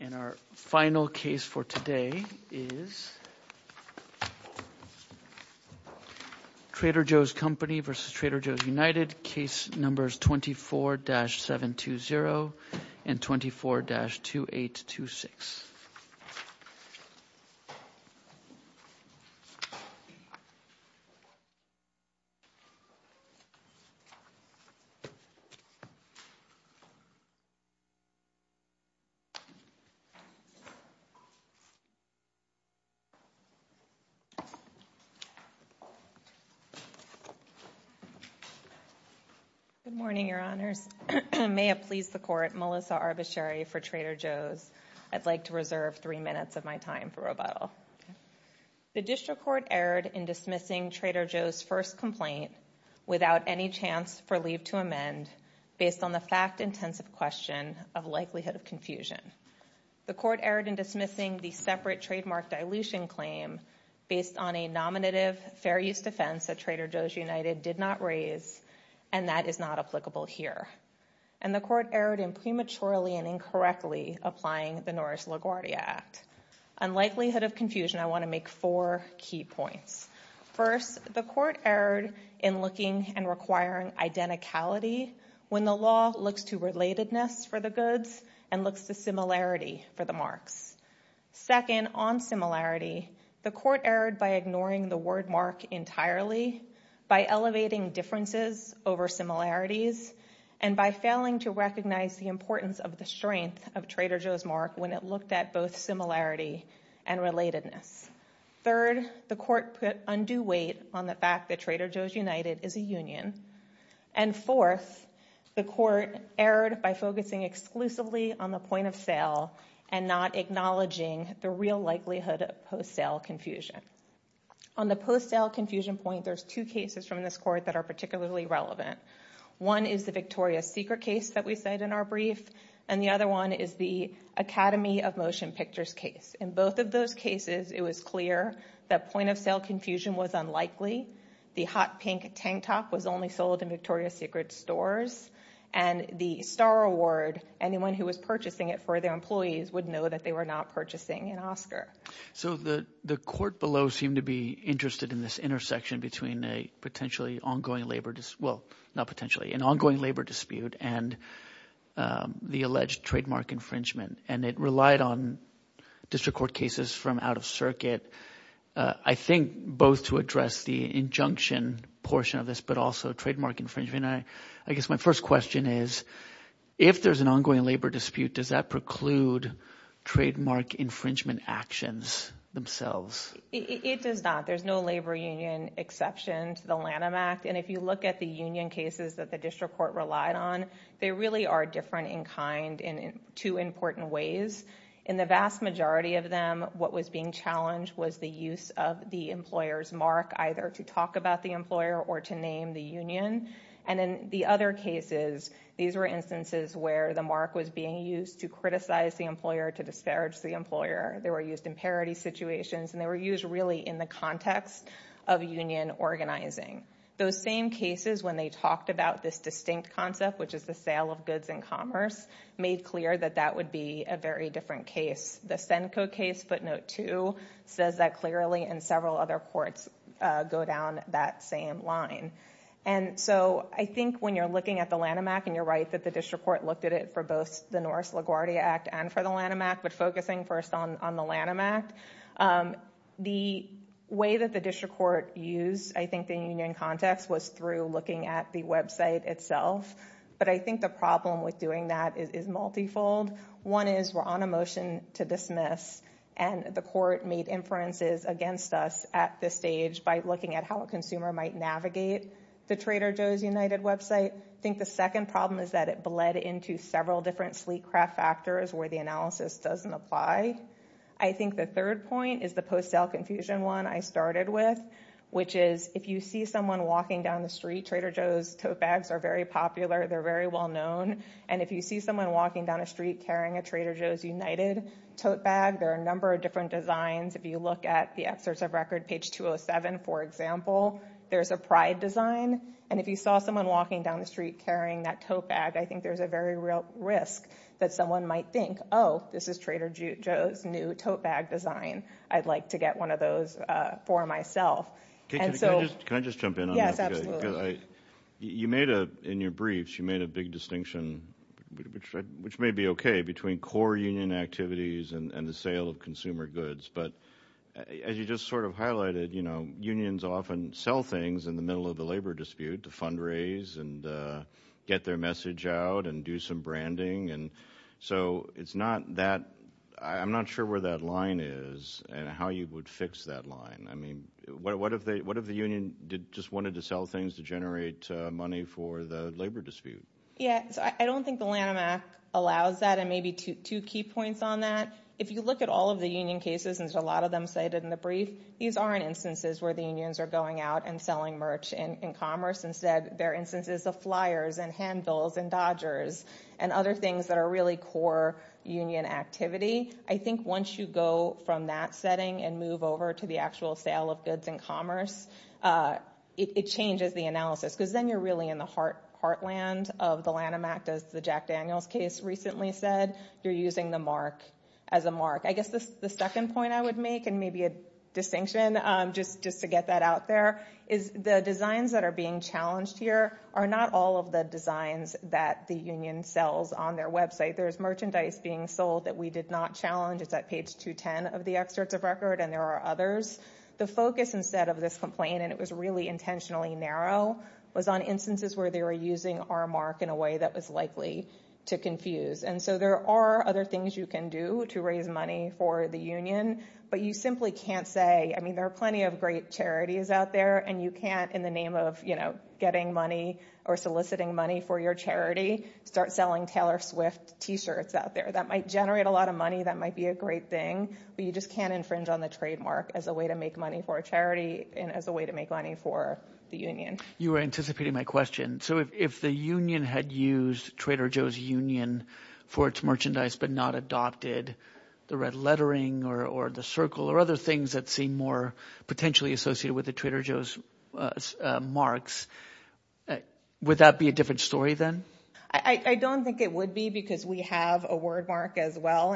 And our final case for today is Trader Joe's Company v. Trader Joe's United, case numbers 24-720 and 24-2826. Good morning, your honors. May it please the court, Melissa Arbacheri for Trader Joe's. I'd like to reserve three minutes of my time for rebuttal. The district court erred in dismissing Trader Joe's first complaint without any chance for leave to amend based on the fact-intensive question of likelihood of confusion. The court erred in dismissing the separate trademark dilution claim based on a nominative fair use defense that Trader Joe's United did not raise and that is not applicable here. And the court erred in prematurely and incorrectly applying the Norris LaGuardia Act. Unlikelihood of confusion, I want to make four key points. First, the court erred in looking and requiring identicality when the law looks to relatedness for the goods and looks to similarity for the marks. Second, on similarity, the court erred by ignoring the word mark entirely, by elevating differences over similarities, and by failing to recognize the importance of the strength of Trader Joe's mark when it looked at both similarity and relatedness. Third, the court put undue weight on the fact that Trader Joe's United is a union. And fourth, the court erred by focusing exclusively on the point of sale and not acknowledging the real likelihood of post-sale confusion. On the post-sale confusion point, there's two cases from this court that are particularly relevant. One is the Victoria's Secret case that we said in our brief, and the other one is the Academy of Motion Pictures case. In both of those cases, it was clear that point of sale confusion was unlikely, the hot pink tank top was only sold in Victoria's Secret stores, and the Star Award, anyone who was purchasing it for their employees would know that they were not purchasing an Oscar. So the court below seemed to be interested in this intersection between an ongoing labor dispute and the alleged trademark infringement, and it relied on district court cases from out of circuit, I think both to address the injunction portion of this but also trademark infringement. I guess my first question is, if there's an ongoing labor dispute, does that preclude trademark infringement actions themselves? It does not. There's no labor union exception to the Lanham Act, and if you look at the union cases that the district court relied on, they really are different in kind in two important ways. In the vast majority of them, what was being challenged was the use of the employer's mark, either to talk about the employer or to name the union. In the other cases, these were instances where the mark was being used to criticize the employer, to disparage the employer. They were used in parity situations, and they were used really in the context of union organizing. Those same cases, when they talked about this distinct concept, which is the sale of goods and commerce, made clear that that would be a very different case. The Senko case, footnote two, says that clearly, and several other courts go down that same line. I think when you're looking at the Lanham Act, and you're right that the district court looked at it for both the Norris LaGuardia Act and for the Lanham Act, but focusing first on the Lanham Act, the way that the district court used the union context was through looking at the website itself, but I think the problem with doing that is multifold. One is, we're on a motion to dismiss, and the court made inferences against us at this stage by looking at how a consumer might navigate the Trader Joe's United website. I think the second problem is that it bled into several different sleek craft factors where the analysis doesn't apply. I think the third point is the post-sale confusion one I started with, which is, if you see someone walking down the street—Trader Joe's tote bags are very popular, they're very well known— and if you see someone walking down the street carrying a Trader Joe's United tote bag, there are a number of different designs. If you look at the excerpts of record, page 207, for example, there's a pride design, and if you saw someone walking down the street carrying that tote bag, I think there's a very real risk that someone might think, oh, this is Trader Joe's new tote bag design, I'd like to get one of those for myself. Can I just jump in on that? Yes, absolutely. In your briefs, you made a big distinction, which may be okay, between core union activities and the sale of consumer goods, but as you just sort of highlighted, unions often sell things in the middle of the labor dispute to fundraise and get their message out and do some branding. I'm not sure where that line is and how you would fix that line. What if the union just wanted to sell things to generate money for the labor dispute? I don't think the Lanham Act allows that, and maybe two key points on that. If you look at all of the union cases, and there's a lot of them cited in the brief, these aren't instances where the unions are going out and selling merch in commerce. Instead, they're instances of flyers and handbills and Dodgers and other things that are really core union activity. I think once you go from that setting and move over to the actual sale of goods in commerce, it changes the analysis, because then you're really in the heartland of the Lanham Act. As the Jack Daniels case recently said, you're using the mark as a mark. I guess the second point I would make, and maybe a distinction just to get that out there, is the designs that are being challenged here are not all of the designs that the union sells on their website. There's merchandise being sold that we did not challenge. It's at page 210 of the excerpts of record, and there are others. The focus instead of this complaint, and it was really intentionally narrow, was on instances where they were using our mark in a way that was likely to confuse. There are other things you can do to raise money for the union, but you simply can't say – there are plenty of great charities out there, and you can't, in the name of getting money or soliciting money for your charity, start selling Taylor Swift T-shirts out there. That might generate a lot of money. That might be a great thing, but you just can't infringe on the trademark as a way to make money for a charity and as a way to make money for the union. You were anticipating my question. If the union had used Trader Joe's Union for its merchandise but not adopted the red lettering or the circle or other things that seem more potentially associated with the Trader Joe's marks, would that be a different story then? I don't think it would be because we have a word mark as well.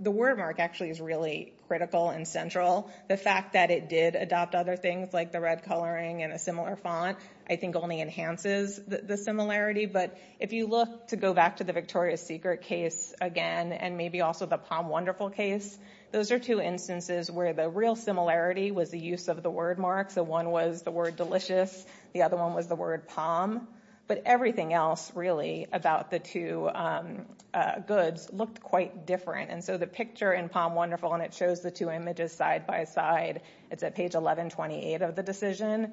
The word mark actually is really critical and central. The fact that it did adopt other things, like the red coloring and a similar font, I think only enhances the similarity. But if you look to go back to the Victoria's Secret case again, and maybe also the Palm Wonderful case, those are two instances where the real similarity was the use of the word mark. One was the word delicious. The other one was the word palm. But everything else, really, about the two goods looked quite different. So the picture in Palm Wonderful, and it shows the two images side by side, it's at page 1128 of the decision.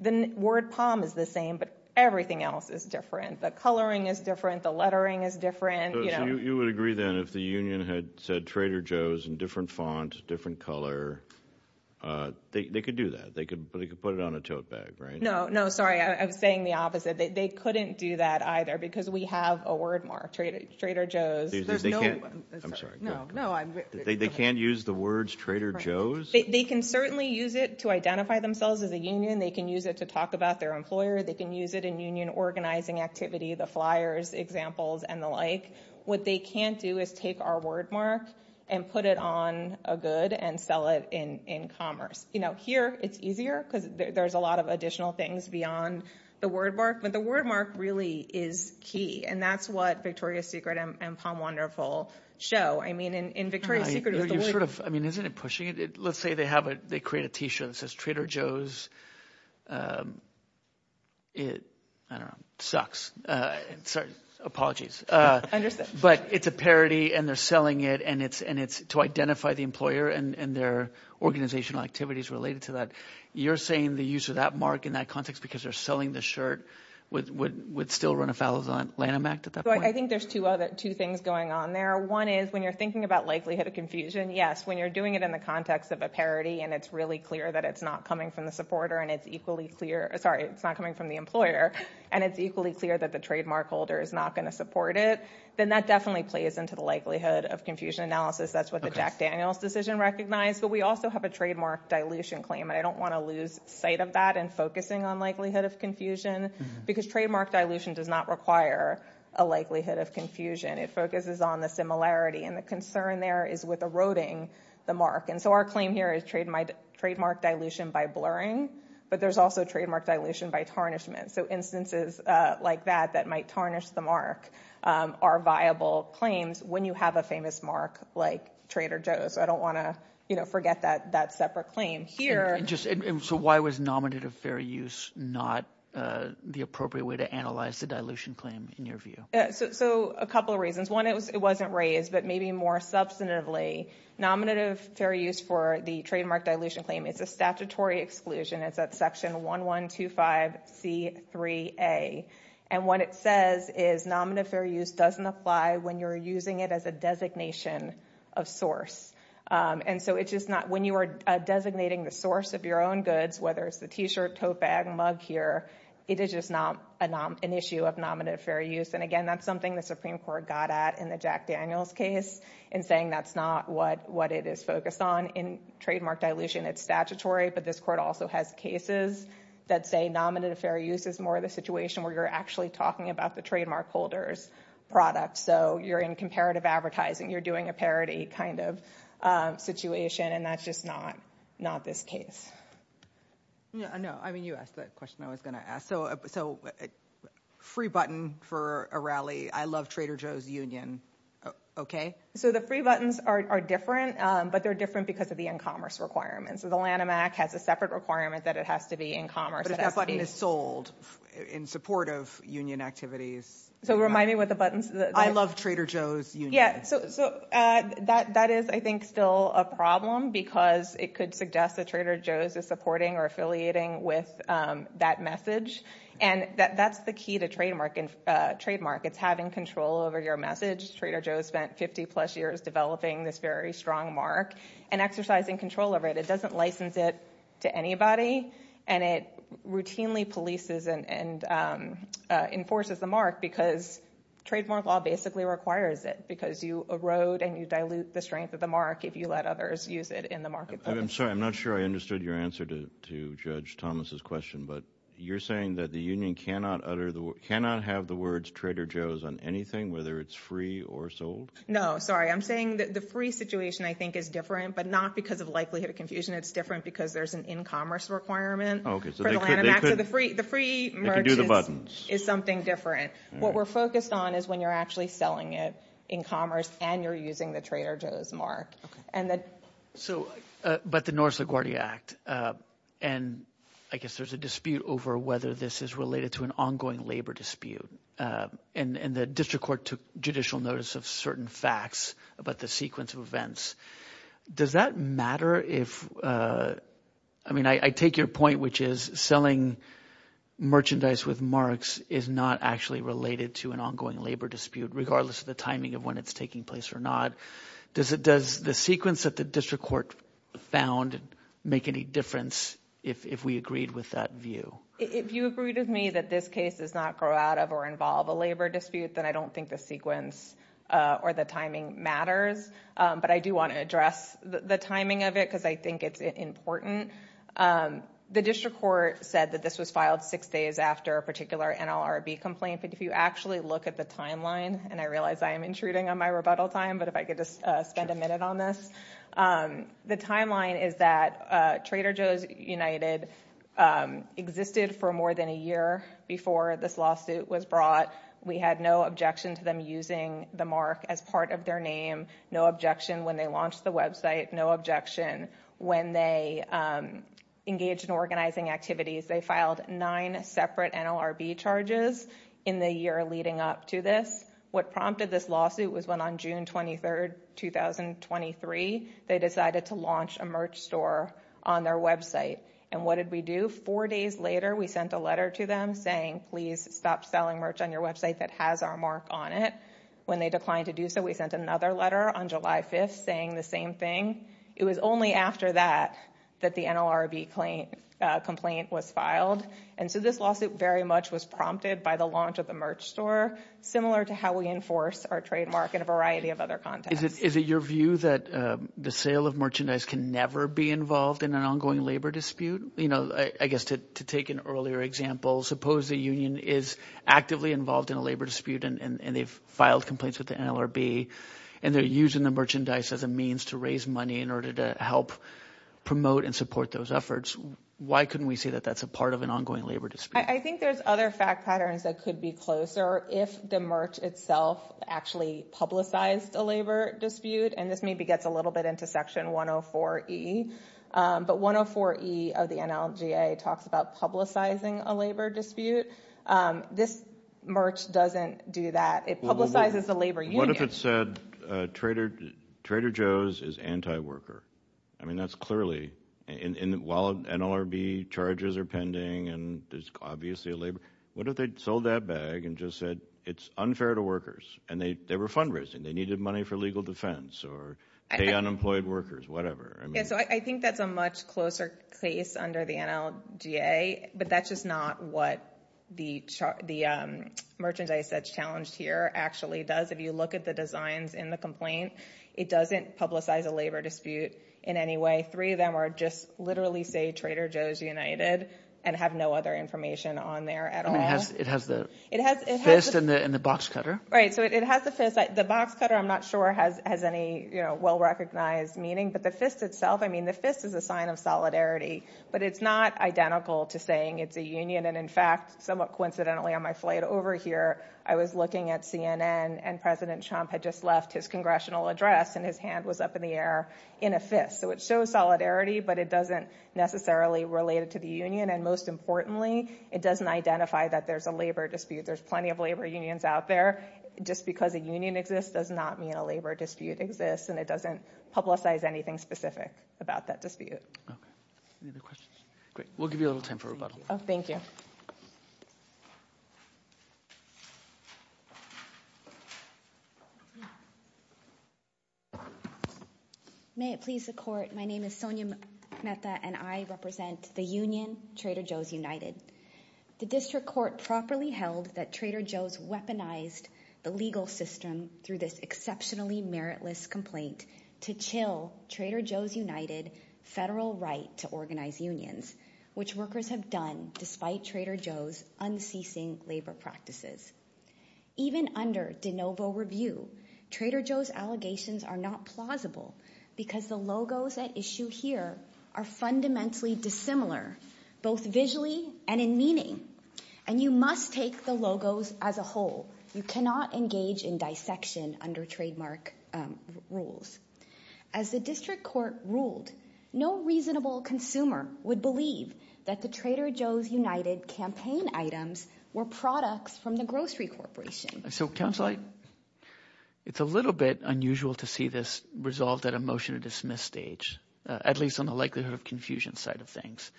The word palm is the same, but everything else is different. The coloring is different. The lettering is different. So you would agree then if the union had said Trader Joe's in different font, different color, they could do that. They could put it on a tote bag, right? No, sorry. I'm saying the opposite. They couldn't do that either because we have a word mark, Trader Joe's. I'm sorry. They can't use the words Trader Joe's? They can certainly use it to identify themselves as a union. They can use it to talk about their employer. They can use it in union organizing activity, the flyers, examples, and the like. What they can't do is take our word mark and put it on a good and sell it in commerce. Here it's easier because there's a lot of additional things beyond the word mark. But the word mark really is key, and that's what Victoria's Secret and Palm Wonderful show. I mean in Victoria's Secret is the word mark. Isn't it pushing it? Let's say they have a – they create a t-shirt that says Trader Joe's. I don't know. It sucks. Sorry. Apologies. But it's a parody, and they're selling it, and it's to identify the employer and their organizational activities related to that. You're saying the use of that mark in that context because they're selling the shirt would still run afoul of the Lanham Act at that point? I think there's two things going on there. One is when you're thinking about likelihood of confusion, yes. When you're doing it in the context of a parody and it's really clear that it's not coming from the supporter and it's equally clear – sorry, it's not coming from the employer and it's equally clear that the trademark holder is not going to support it, then that definitely plays into the likelihood of confusion analysis. That's what the Jack Daniels decision recognized. But we also have a trademark dilution claim, and I don't want to lose sight of that in focusing on likelihood of confusion because trademark dilution does not require a likelihood of confusion. It focuses on the similarity, and the concern there is with eroding the mark. Our claim here is trademark dilution by blurring, but there's also trademark dilution by tarnishment. Instances like that that might tarnish the mark are viable claims when you have a famous mark like Trader Joe's. I don't want to forget that separate claim here. So why was nominative fair use not the appropriate way to analyze the dilution claim in your view? So a couple of reasons. One, it wasn't raised, but maybe more substantively, nominative fair use for the trademark dilution claim is a statutory exclusion. It's at section 1125C3A. And what it says is nominative fair use doesn't apply when you're using it as a designation of source. And so when you are designating the source of your own goods, whether it's the T-shirt, tote bag, mug here, it is just not an issue of nominative fair use. And again, that's something the Supreme Court got at in the Jack Daniels case in saying that's not what it is focused on in trademark dilution. It's statutory, but this court also has cases that say nominative fair use is more of the situation where you're actually talking about the trademark holder's product. So you're in comparative advertising. You're doing a parody kind of situation, and that's just not this case. No, I mean, you asked that question I was going to ask. So free button for a rally. I love Trader Joe's Union. OK. So the free buttons are different, but they're different because of the e-commerce requirements. So the Lanham Act has a separate requirement that it has to be e-commerce. But if that button is sold in support of union activities. So remind me what the buttons. I love Trader Joe's Union. Yeah, so that is, I think, still a problem because it could suggest that Trader Joe's is supporting or affiliating with that message, and that's the key to trademark. It's having control over your message. Trader Joe's spent 50-plus years developing this very strong mark and exercising control over it. It doesn't license it to anybody, and it routinely polices and enforces the mark because trademark law basically requires it because you erode and you dilute the strength of the mark if you let others use it in the marketplace. I'm sorry. I'm not sure I understood your answer to Judge Thomas's question, but you're saying that the union cannot have the words Trader Joe's on anything, whether it's free or sold? No, sorry. I'm saying that the free situation, I think, is different, but not because of likelihood of confusion. It's different because there's an e-commerce requirement for the Lanham Act. So the free merch is something different. What we're focused on is when you're actually selling it in commerce and you're using the Trader Joe's mark. But the North LaGuardia Act, and I guess there's a dispute over whether this is related to an ongoing labor dispute. And the district court took judicial notice of certain facts about the sequence of events. Does that matter if – I mean, I take your point, which is selling merchandise with marks is not actually related to an ongoing labor dispute, regardless of the timing of when it's taking place or not. Does the sequence that the district court found make any difference if we agreed with that view? If you agreed with me that this case does not grow out of or involve a labor dispute, then I don't think the sequence or the timing matters. But I do want to address the timing of it because I think it's important. The district court said that this was filed six days after a particular NLRB complaint. But if you actually look at the timeline – and I realize I am intruding on my rebuttal time, but if I could just spend a minute on this – the timeline is that Trader Joe's United existed for more than a year before this lawsuit was brought. We had no objection to them using the mark as part of their name, no objection when they launched the website, no objection when they engaged in organizing activities. They filed nine separate NLRB charges in the year leading up to this. What prompted this lawsuit was when on June 23rd, 2023, they decided to launch a merch store on their website. And what did we do? Four days later, we sent a letter to them saying, please stop selling merch on your website that has our mark on it. When they declined to do so, we sent another letter on July 5th saying the same thing. It was only after that that the NLRB complaint was filed. And so this lawsuit very much was prompted by the launch of the merch store, similar to how we enforce our trademark in a variety of other contexts. Is it your view that the sale of merchandise can never be involved in an ongoing labor dispute? I guess to take an earlier example, suppose the union is actively involved in a labor dispute and they've filed complaints with the NLRB and they're using the merchandise as a means to raise money in order to help promote and support those efforts. Why couldn't we say that that's a part of an ongoing labor dispute? I think there's other fact patterns that could be closer if the merch itself actually publicized a labor dispute. And this maybe gets a little bit into Section 104E. But 104E of the NLGA talks about publicizing a labor dispute. This merch doesn't do that. It publicizes the labor union. What if it said Trader Joe's is anti-worker? I mean that's clearly—while NLRB charges are pending and there's obviously a labor— what if they sold that bag and just said it's unfair to workers? And they were fundraising. They needed money for legal defense or pay unemployed workers, whatever. So I think that's a much closer case under the NLGA. But that's just not what the merchandise that's challenged here actually does. If you look at the designs in the complaint, it doesn't publicize a labor dispute in any way. Three of them are just literally say Trader Joe's United and have no other information on there at all. It has the fist and the box cutter. Right. So it has the fist. The box cutter I'm not sure has any well-recognized meaning. But the fist itself, I mean the fist is a sign of solidarity. But it's not identical to saying it's a union. And in fact, somewhat coincidentally on my flight over here, I was looking at CNN and President Trump had just left his congressional address and his hand was up in the air in a fist. So it shows solidarity, but it doesn't necessarily relate it to the union. And most importantly, it doesn't identify that there's a labor dispute. There's plenty of labor unions out there. Just because a union exists does not mean a labor dispute exists. And it doesn't publicize anything specific about that dispute. Any other questions? Great. We'll give you a little time for rebuttal. Thank you. May it please the court, my name is Sonia Mehta and I represent the union Trader Joe's United. The district court properly held that Trader Joe's weaponized the legal system through this exceptionally meritless complaint to chill Trader Joe's United federal right to organize unions, which workers have done despite Trader Joe's unceasing labor practices. Even under de novo review, Trader Joe's allegations are not plausible because the logos at issue here are fundamentally dissimilar, both visually and in meaning. And you must take the logos as a whole. You cannot engage in dissection under trademark rules. As the district court ruled, no reasonable consumer would believe that the Trader Joe's United campaign items were products from the grocery corporation. So, counsel, it's a little bit unusual to see this resolved at a motion to dismiss stage, at least on the likelihood of confusion side of things.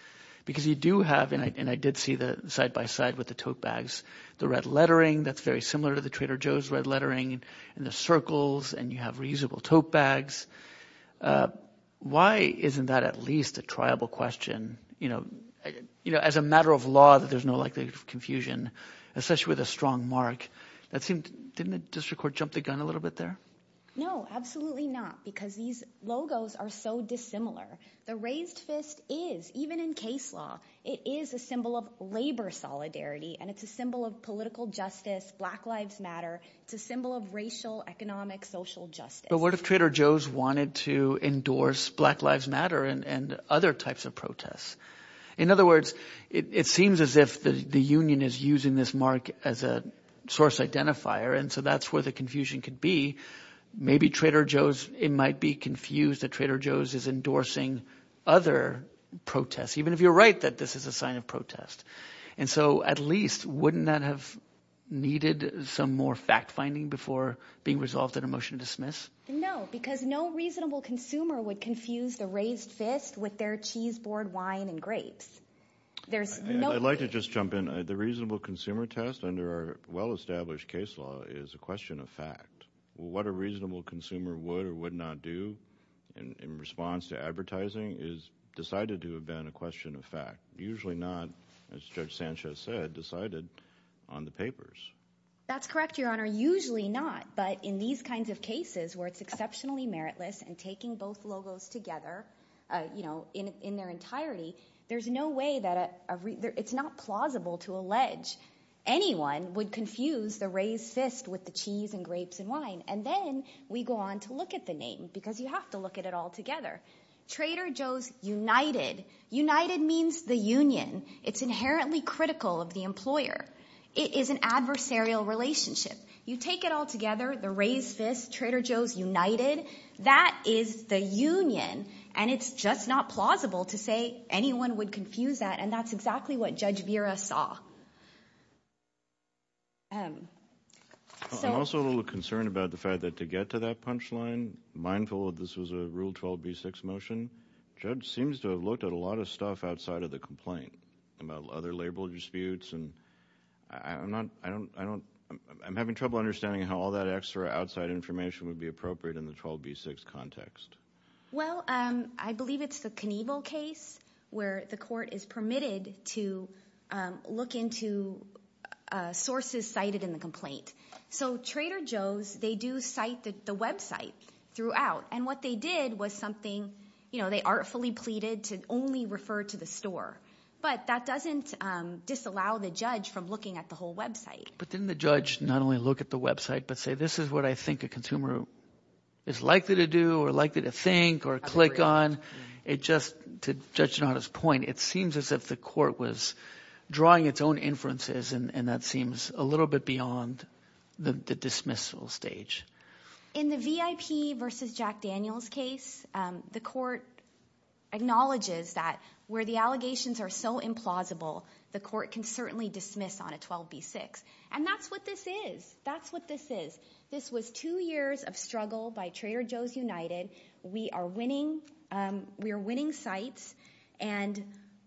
Because you do have, and I did see the side by side with the tote bags, the red lettering that's very similar to the Trader Joe's red lettering, and the circles, and you have reusable tote bags. Why isn't that at least a triable question? As a matter of law, there's no likelihood of confusion, especially with a strong mark. Didn't the district court jump the gun a little bit there? No, absolutely not, because these logos are so dissimilar. The raised fist is, even in case law, it is a symbol of labor solidarity, and it's a symbol of political justice, Black Lives Matter. It's a symbol of racial, economic, social justice. But what if Trader Joe's wanted to endorse Black Lives Matter and other types of protests? In other words, it seems as if the union is using this mark as a source identifier, and so that's where the confusion could be. Maybe Trader Joe's, it might be confused that Trader Joe's is endorsing other protests, even if you're right that this is a sign of protest. And so at least, wouldn't that have needed some more fact-finding before being resolved in a motion to dismiss? No, because no reasonable consumer would confuse the raised fist with their cheese board, wine, and grapes. I'd like to just jump in. The reasonable consumer test under our well-established case law is a question of fact. What a reasonable consumer would or would not do in response to advertising is decided to have been a question of fact. Usually not, as Judge Sanchez said, decided on the papers. That's correct, Your Honor, usually not. But in these kinds of cases where it's exceptionally meritless and taking both logos together in their entirety, there's no way that it's not plausible to allege anyone would confuse the raised fist with the cheese and grapes and wine. And then we go on to look at the name because you have to look at it all together. Trader Joe's United. United means the union. It's inherently critical of the employer. It is an adversarial relationship. You take it all together, the raised fist, Trader Joe's United, that is the union, and it's just not plausible to say anyone would confuse that, and that's exactly what Judge Vera saw. I'm also a little concerned about the fact that to get to that punchline, mindful that this was a Rule 12b-6 motion, the judge seems to have looked at a lot of stuff outside of the complaint, other label disputes. I'm having trouble understanding how all that extra outside information would be appropriate in the 12b-6 context. Well, I believe it's the Knievel case where the court is permitted to look into sources cited in the complaint. So Trader Joe's, they do cite the website throughout, and what they did was something. They artfully pleaded to only refer to the store, but that doesn't disallow the judge from looking at the whole website. But didn't the judge not only look at the website but say this is what I think a consumer is likely to do or likely to think or click on? It just, to Judge Donato's point, it seems as if the court was drawing its own inferences, and that seems a little bit beyond the dismissal stage. In the VIP versus Jack Daniels case, the court acknowledges that where the allegations are so implausible, the court can certainly dismiss on a 12b-6. And that's what this is. That's what this is. This was two years of struggle by Trader Joe's United. We are winning, we are winning sites, and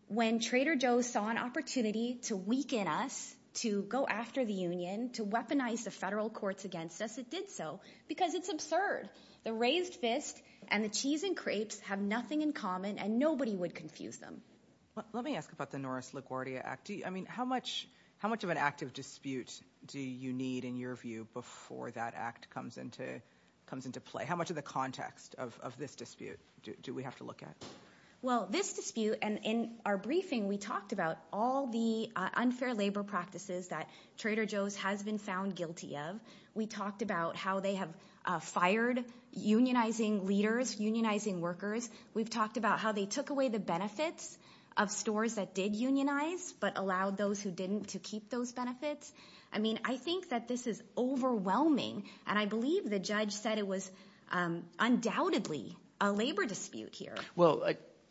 when Trader Joe's saw an opportunity to weaken us, to go after the union, to weaponize the federal courts against us, it did so because it's absurd. The raised fist and the cheese and crepes have nothing in common, and nobody would confuse them. Let me ask about the Norris LaGuardia Act. How much of an active dispute do you need, in your view, before that act comes into play? How much of the context of this dispute do we have to look at? Well, this dispute, and in our briefing we talked about all the unfair labor practices that Trader Joe's has been found guilty of. We talked about how they have fired unionizing leaders, unionizing workers. We've talked about how they took away the benefits of stores that did unionize but allowed those who didn't to keep those benefits. I mean I think that this is overwhelming, and I believe the judge said it was undoubtedly a labor dispute here. Well,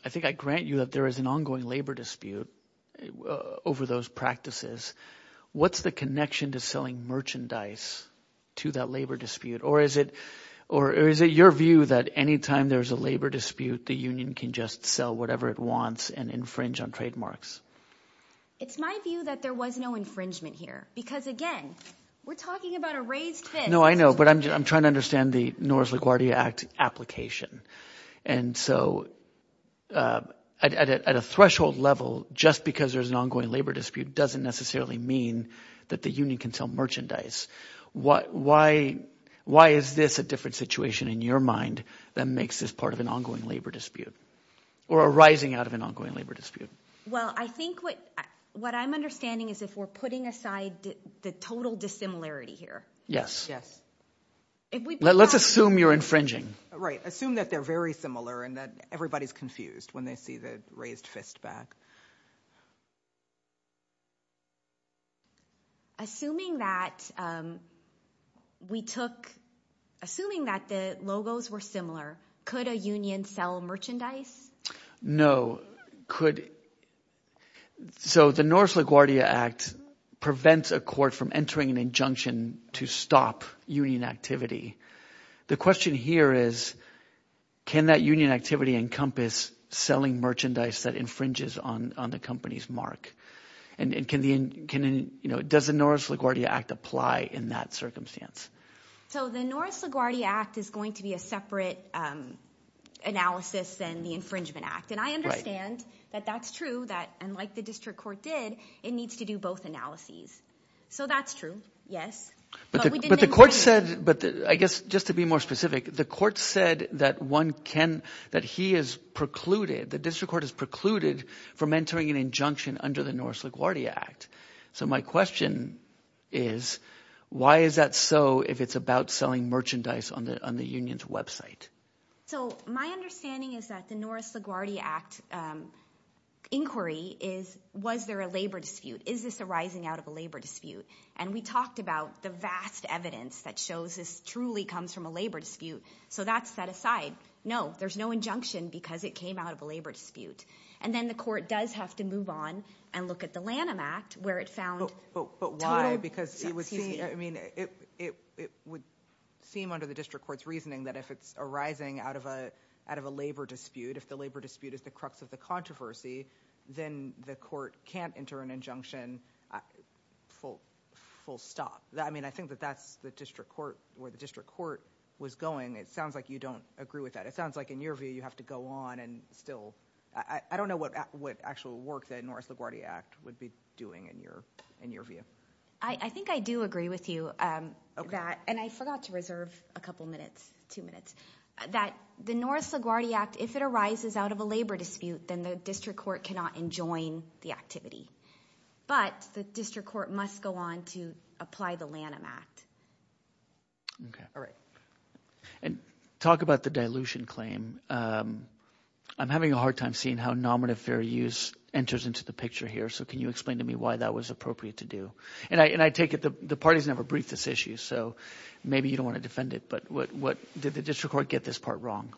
I think I grant you that there is an ongoing labor dispute over those practices. What's the connection to selling merchandise to that labor dispute? Or is it your view that any time there's a labor dispute, the union can just sell whatever it wants and infringe on trademarks? It's my view that there was no infringement here because, again, we're talking about a raised fist. No, I know, but I'm trying to understand the Norris LaGuardia Act application. And so at a threshold level, just because there's an ongoing labor dispute doesn't necessarily mean that the union can sell merchandise. Why is this a different situation in your mind that makes this part of an ongoing labor dispute or arising out of an ongoing labor dispute? Well, I think what I'm understanding is if we're putting aside the total dissimilarity here. Yes. Let's assume you're infringing. Right. Assume that they're very similar and that everybody is confused when they see the raised fist back. Assuming that we took – assuming that the logos were similar, could a union sell merchandise? No. Could – so the Norris LaGuardia Act prevents a court from entering an injunction to stop union activity. The question here is can that union activity encompass selling merchandise that infringes on the company's mark? And can – does the Norris LaGuardia Act apply in that circumstance? So the Norris LaGuardia Act is going to be a separate analysis than the Infringement Act. And I understand that that's true, that unlike the district court did, it needs to do both analyses. So that's true, yes. But the court said – but I guess just to be more specific, the court said that one can – that he has precluded – the district court has precluded from entering an injunction under the Norris LaGuardia Act. So my question is why is that so if it's about selling merchandise on the union's website? So my understanding is that the Norris LaGuardia Act inquiry is was there a labor dispute? Is this arising out of a labor dispute? And we talked about the vast evidence that shows this truly comes from a labor dispute. So that's set aside. No, there's no injunction because it came out of a labor dispute. And then the court does have to move on and look at the Lanham Act where it found total – But why? Because it would seem – I mean it would seem under the district court's reasoning that if it's arising out of a labor dispute, if the labor dispute is the crux of the controversy, then the court can't enter an injunction full stop. I mean I think that that's the district court – where the district court was going. It sounds like you don't agree with that. It sounds like in your view you have to go on and still – I don't know what actual work the Norris LaGuardia Act would be doing in your view. I think I do agree with you that – and I forgot to reserve a couple minutes, two minutes – that the Norris LaGuardia Act, if it arises out of a labor dispute, then the district court cannot enjoin the activity. But the district court must go on to apply the Lanham Act. Okay, all right. And talk about the dilution claim. I'm having a hard time seeing how nominative fair use enters into the picture here. So can you explain to me why that was appropriate to do? And I take it the parties never briefed this issue, so maybe you don't want to defend it. But what – did the district court get this part wrong?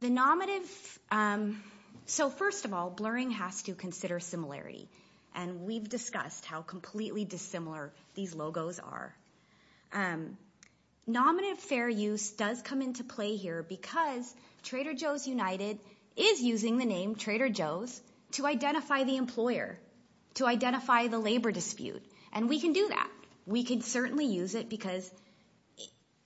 The nominative – so first of all, blurring has to consider similarity. And we've discussed how completely dissimilar these logos are. Nominative fair use does come into play here because Trader Joe's United is using the name Trader Joe's to identify the employer, to identify the labor dispute. And we can do that. We can certainly use it because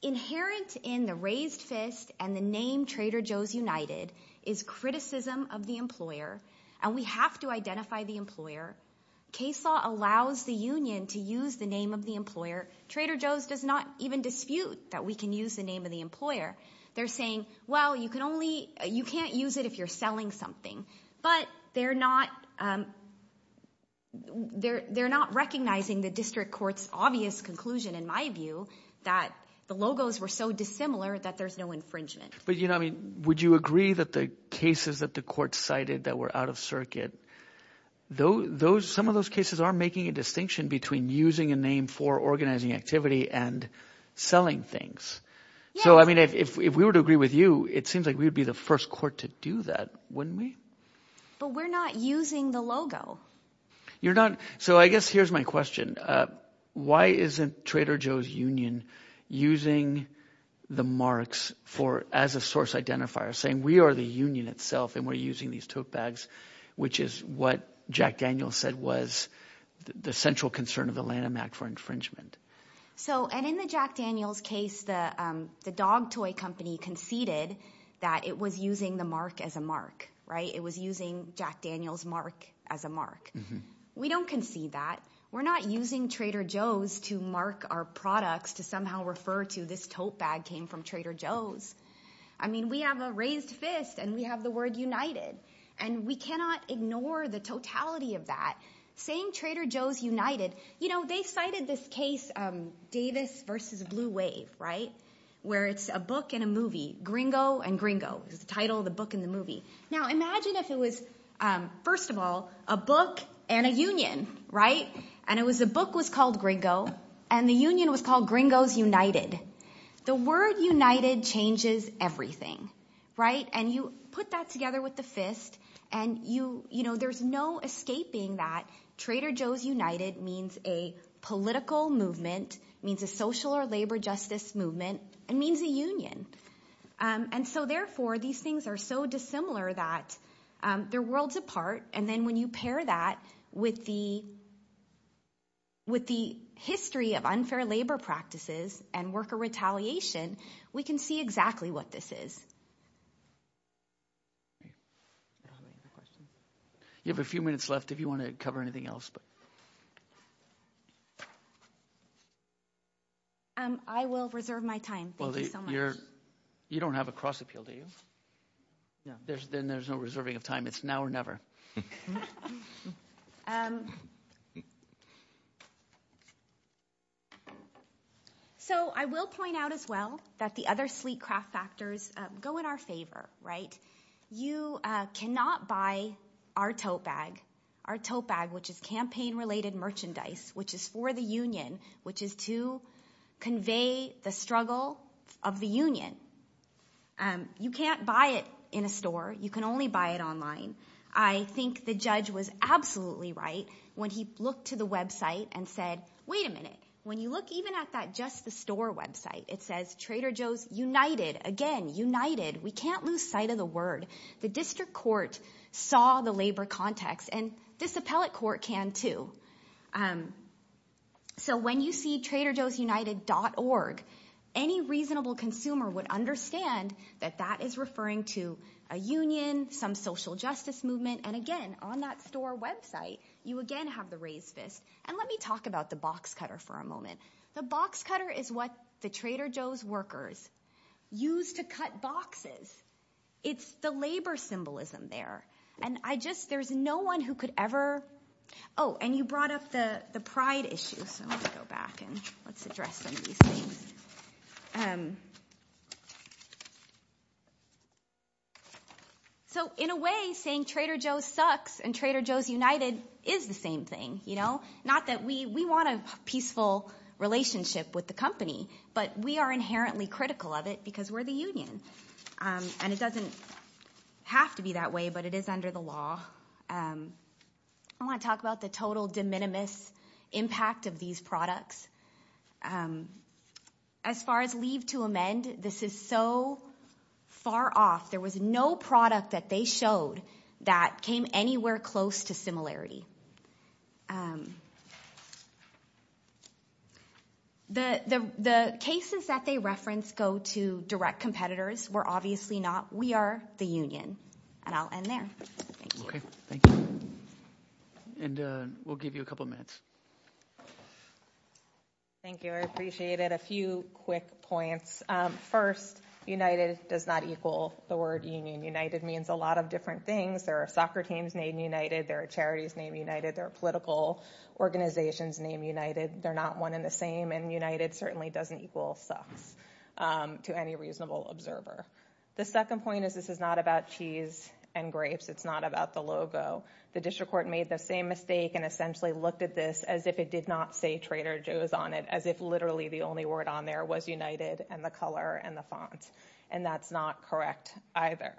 inherent in the raised fist and the name Trader Joe's United is criticism of the employer. And we have to identify the employer. KSAW allows the union to use the name of the employer. Trader Joe's does not even dispute that we can use the name of the employer. They're saying, well, you can only – you can't use it if you're selling something. But they're not – they're not recognizing the district court's obvious conclusion in my view that the logos were so dissimilar that there's no infringement. But would you agree that the cases that the court cited that were out of circuit, those – some of those cases are making a distinction between using a name for organizing activity and selling things. So I mean if we were to agree with you, it seems like we would be the first court to do that, wouldn't we? But we're not using the logo. You're not – so I guess here's my question. Why isn't Trader Joe's union using the marks for – as a source identifier saying we are the union itself and we're using these tote bags, which is what Jack Daniels said was the central concern of the Lanham Act for infringement? So – and in the Jack Daniels case, the dog toy company conceded that it was using the mark as a mark, right? It was using Jack Daniels' mark as a mark. We don't concede that. We're not using Trader Joe's to mark our products to somehow refer to this tote bag came from Trader Joe's. I mean we have a raised fist and we have the word united, and we cannot ignore the totality of that. Saying Trader Joe's united – you know, they cited this case, Davis v. Blue Wave, right, where it's a book and a movie. Gringo and Gringo is the title of the book and the movie. Now imagine if it was first of all a book and a union, right? And the book was called Gringo and the union was called Gringo's United. The word united changes everything, right? And you put that together with the fist, and there's no escaping that. Trader Joe's United means a political movement, means a social or labor justice movement, and means a union. And so therefore, these things are so dissimilar that they're worlds apart. And then when you pair that with the history of unfair labor practices and worker retaliation, we can see exactly what this is. You have a few minutes left if you want to cover anything else. I will reserve my time. Thank you so much. You don't have a cross appeal, do you? Then there's no reserving of time. It's now or never. So I will point out as well that the other sleek craft factors go in our favor, right? You cannot buy our tote bag, which is campaign-related merchandise, which is for the union, which is to convey the struggle of the union. You can't buy it in a store. You can only buy it online. I think the judge was absolutely right when he looked to the website and said, wait a minute. When you look even at that Just the Store website, it says Trader Joe's United. Again, united. We can't lose sight of the word. The district court saw the labor context, and this appellate court can too. So when you see Trader Joe's United.org, any reasonable consumer would understand that that is referring to a union, some social justice movement. And again, on that store website, you again have the raised fist. And let me talk about the box cutter for a moment. The box cutter is what the Trader Joe's workers use to cut boxes. It's the labor symbolism there. There's no one who could ever. Oh, and you brought up the pride issue. So let's go back and let's address some of these things. So in a way, saying Trader Joe's sucks and Trader Joe's United is the same thing. Not that we want a peaceful relationship with the company, but we are inherently critical of it because we're the union. And it doesn't have to be that way, but it is under the law. I want to talk about the total de minimis impact of these products. As far as leave to amend, this is so far off. There was no product that they showed that came anywhere close to similarity. The cases that they reference go to direct competitors. We're obviously not. We are the union. And I'll end there. Thank you. And we'll give you a couple of minutes. Thank you. I appreciate it. A few quick points. First, United does not equal the word union. United means a lot of different things. There are soccer teams named United. There are charities named United. There are political organizations named United. They're not one and the same. And United certainly doesn't equal sucks to any reasonable observer. The second point is this is not about cheese and grapes. It's not about the logo. The district court made the same mistake and essentially looked at this as if it did not say Trader Joe's on it, as if literally the only word on there was United and the color and the font. And that's not correct either.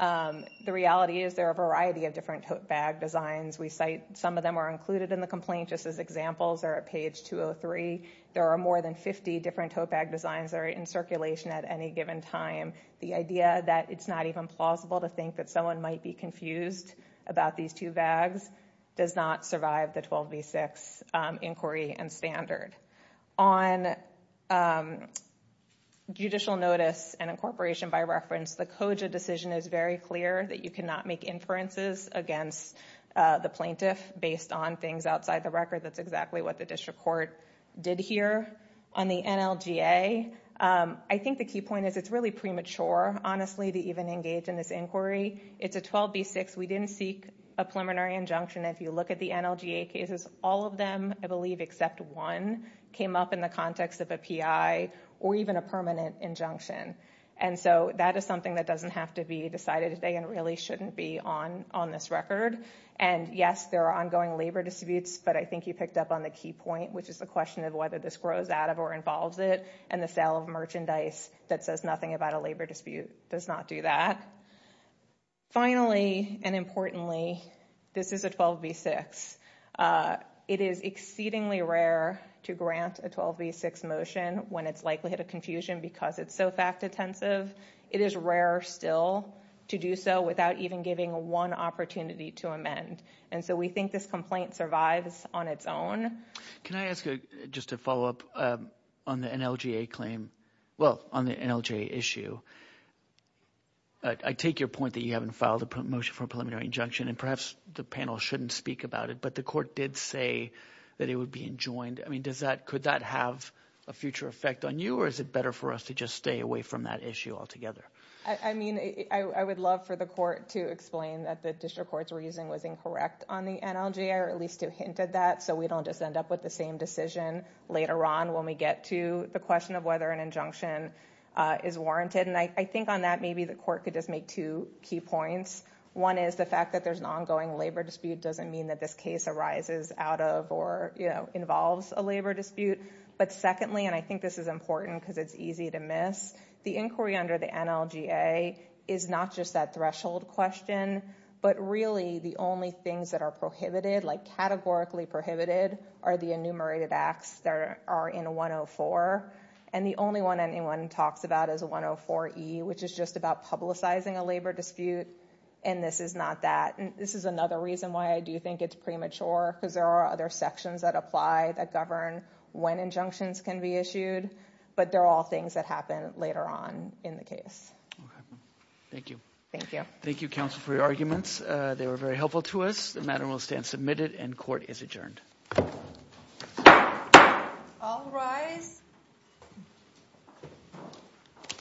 The reality is there are a variety of different tote bag designs. We cite some of them are included in the complaint just as examples are at page 203. There are more than 50 different tote bag designs that are in circulation at any given time. The idea that it's not even plausible to think that someone might be confused about these two bags does not survive the 12v6 inquiry and standard. On judicial notice and incorporation by reference, the COJA decision is very clear that you cannot make inferences against the plaintiff based on things outside the record. That's exactly what the district court did here on the NLGA. I think the key point is it's really premature, honestly, to even engage in this inquiry. It's a 12v6. We didn't seek a preliminary injunction. If you look at the NLGA cases, all of them, I believe except one, came up in the context of a PI or even a permanent injunction. And so that is something that doesn't have to be decided today and really shouldn't be on this record. And yes, there are ongoing labor disputes, but I think you picked up on the key point, which is the question of whether this grows out of or involves it. And the sale of merchandise that says nothing about a labor dispute does not do that. Finally and importantly, this is a 12v6. It is exceedingly rare to grant a 12v6 motion when it's likely to confusion because it's so fact-intensive. It is rare still to do so without even giving one opportunity to amend. And so we think this complaint survives on its own. Can I ask just a follow-up on the NLGA claim? Well, on the NLGA issue, I take your point that you haven't filed a motion for a preliminary injunction, and perhaps the panel shouldn't speak about it, but the court did say that it would be enjoined. I mean, could that have a future effect on you, or is it better for us to just stay away from that issue altogether? I mean, I would love for the court to explain that the district court's reasoning was incorrect on the NLGA, or at least it hinted that, so we don't just end up with the same decision later on when we get to the question of whether an injunction is warranted. And I think on that, maybe the court could just make two key points. One is the fact that there's an ongoing labor dispute doesn't mean that this case arises out of or involves a labor dispute. But secondly, and I think this is important because it's easy to miss, the inquiry under the NLGA is not just that threshold question, but really the only things that are prohibited, like categorically prohibited, are the enumerated acts that are in 104, and the only one anyone talks about is 104E, which is just about publicizing a labor dispute, and this is not that. This is another reason why I do think it's premature, because there are other sections that apply, that govern when injunctions can be issued, but they're all things that happen later on in the case. Thank you. Thank you. Thank you, counsel, for your arguments. They were very helpful to us. The matter will stand submitted and court is adjourned. All rise.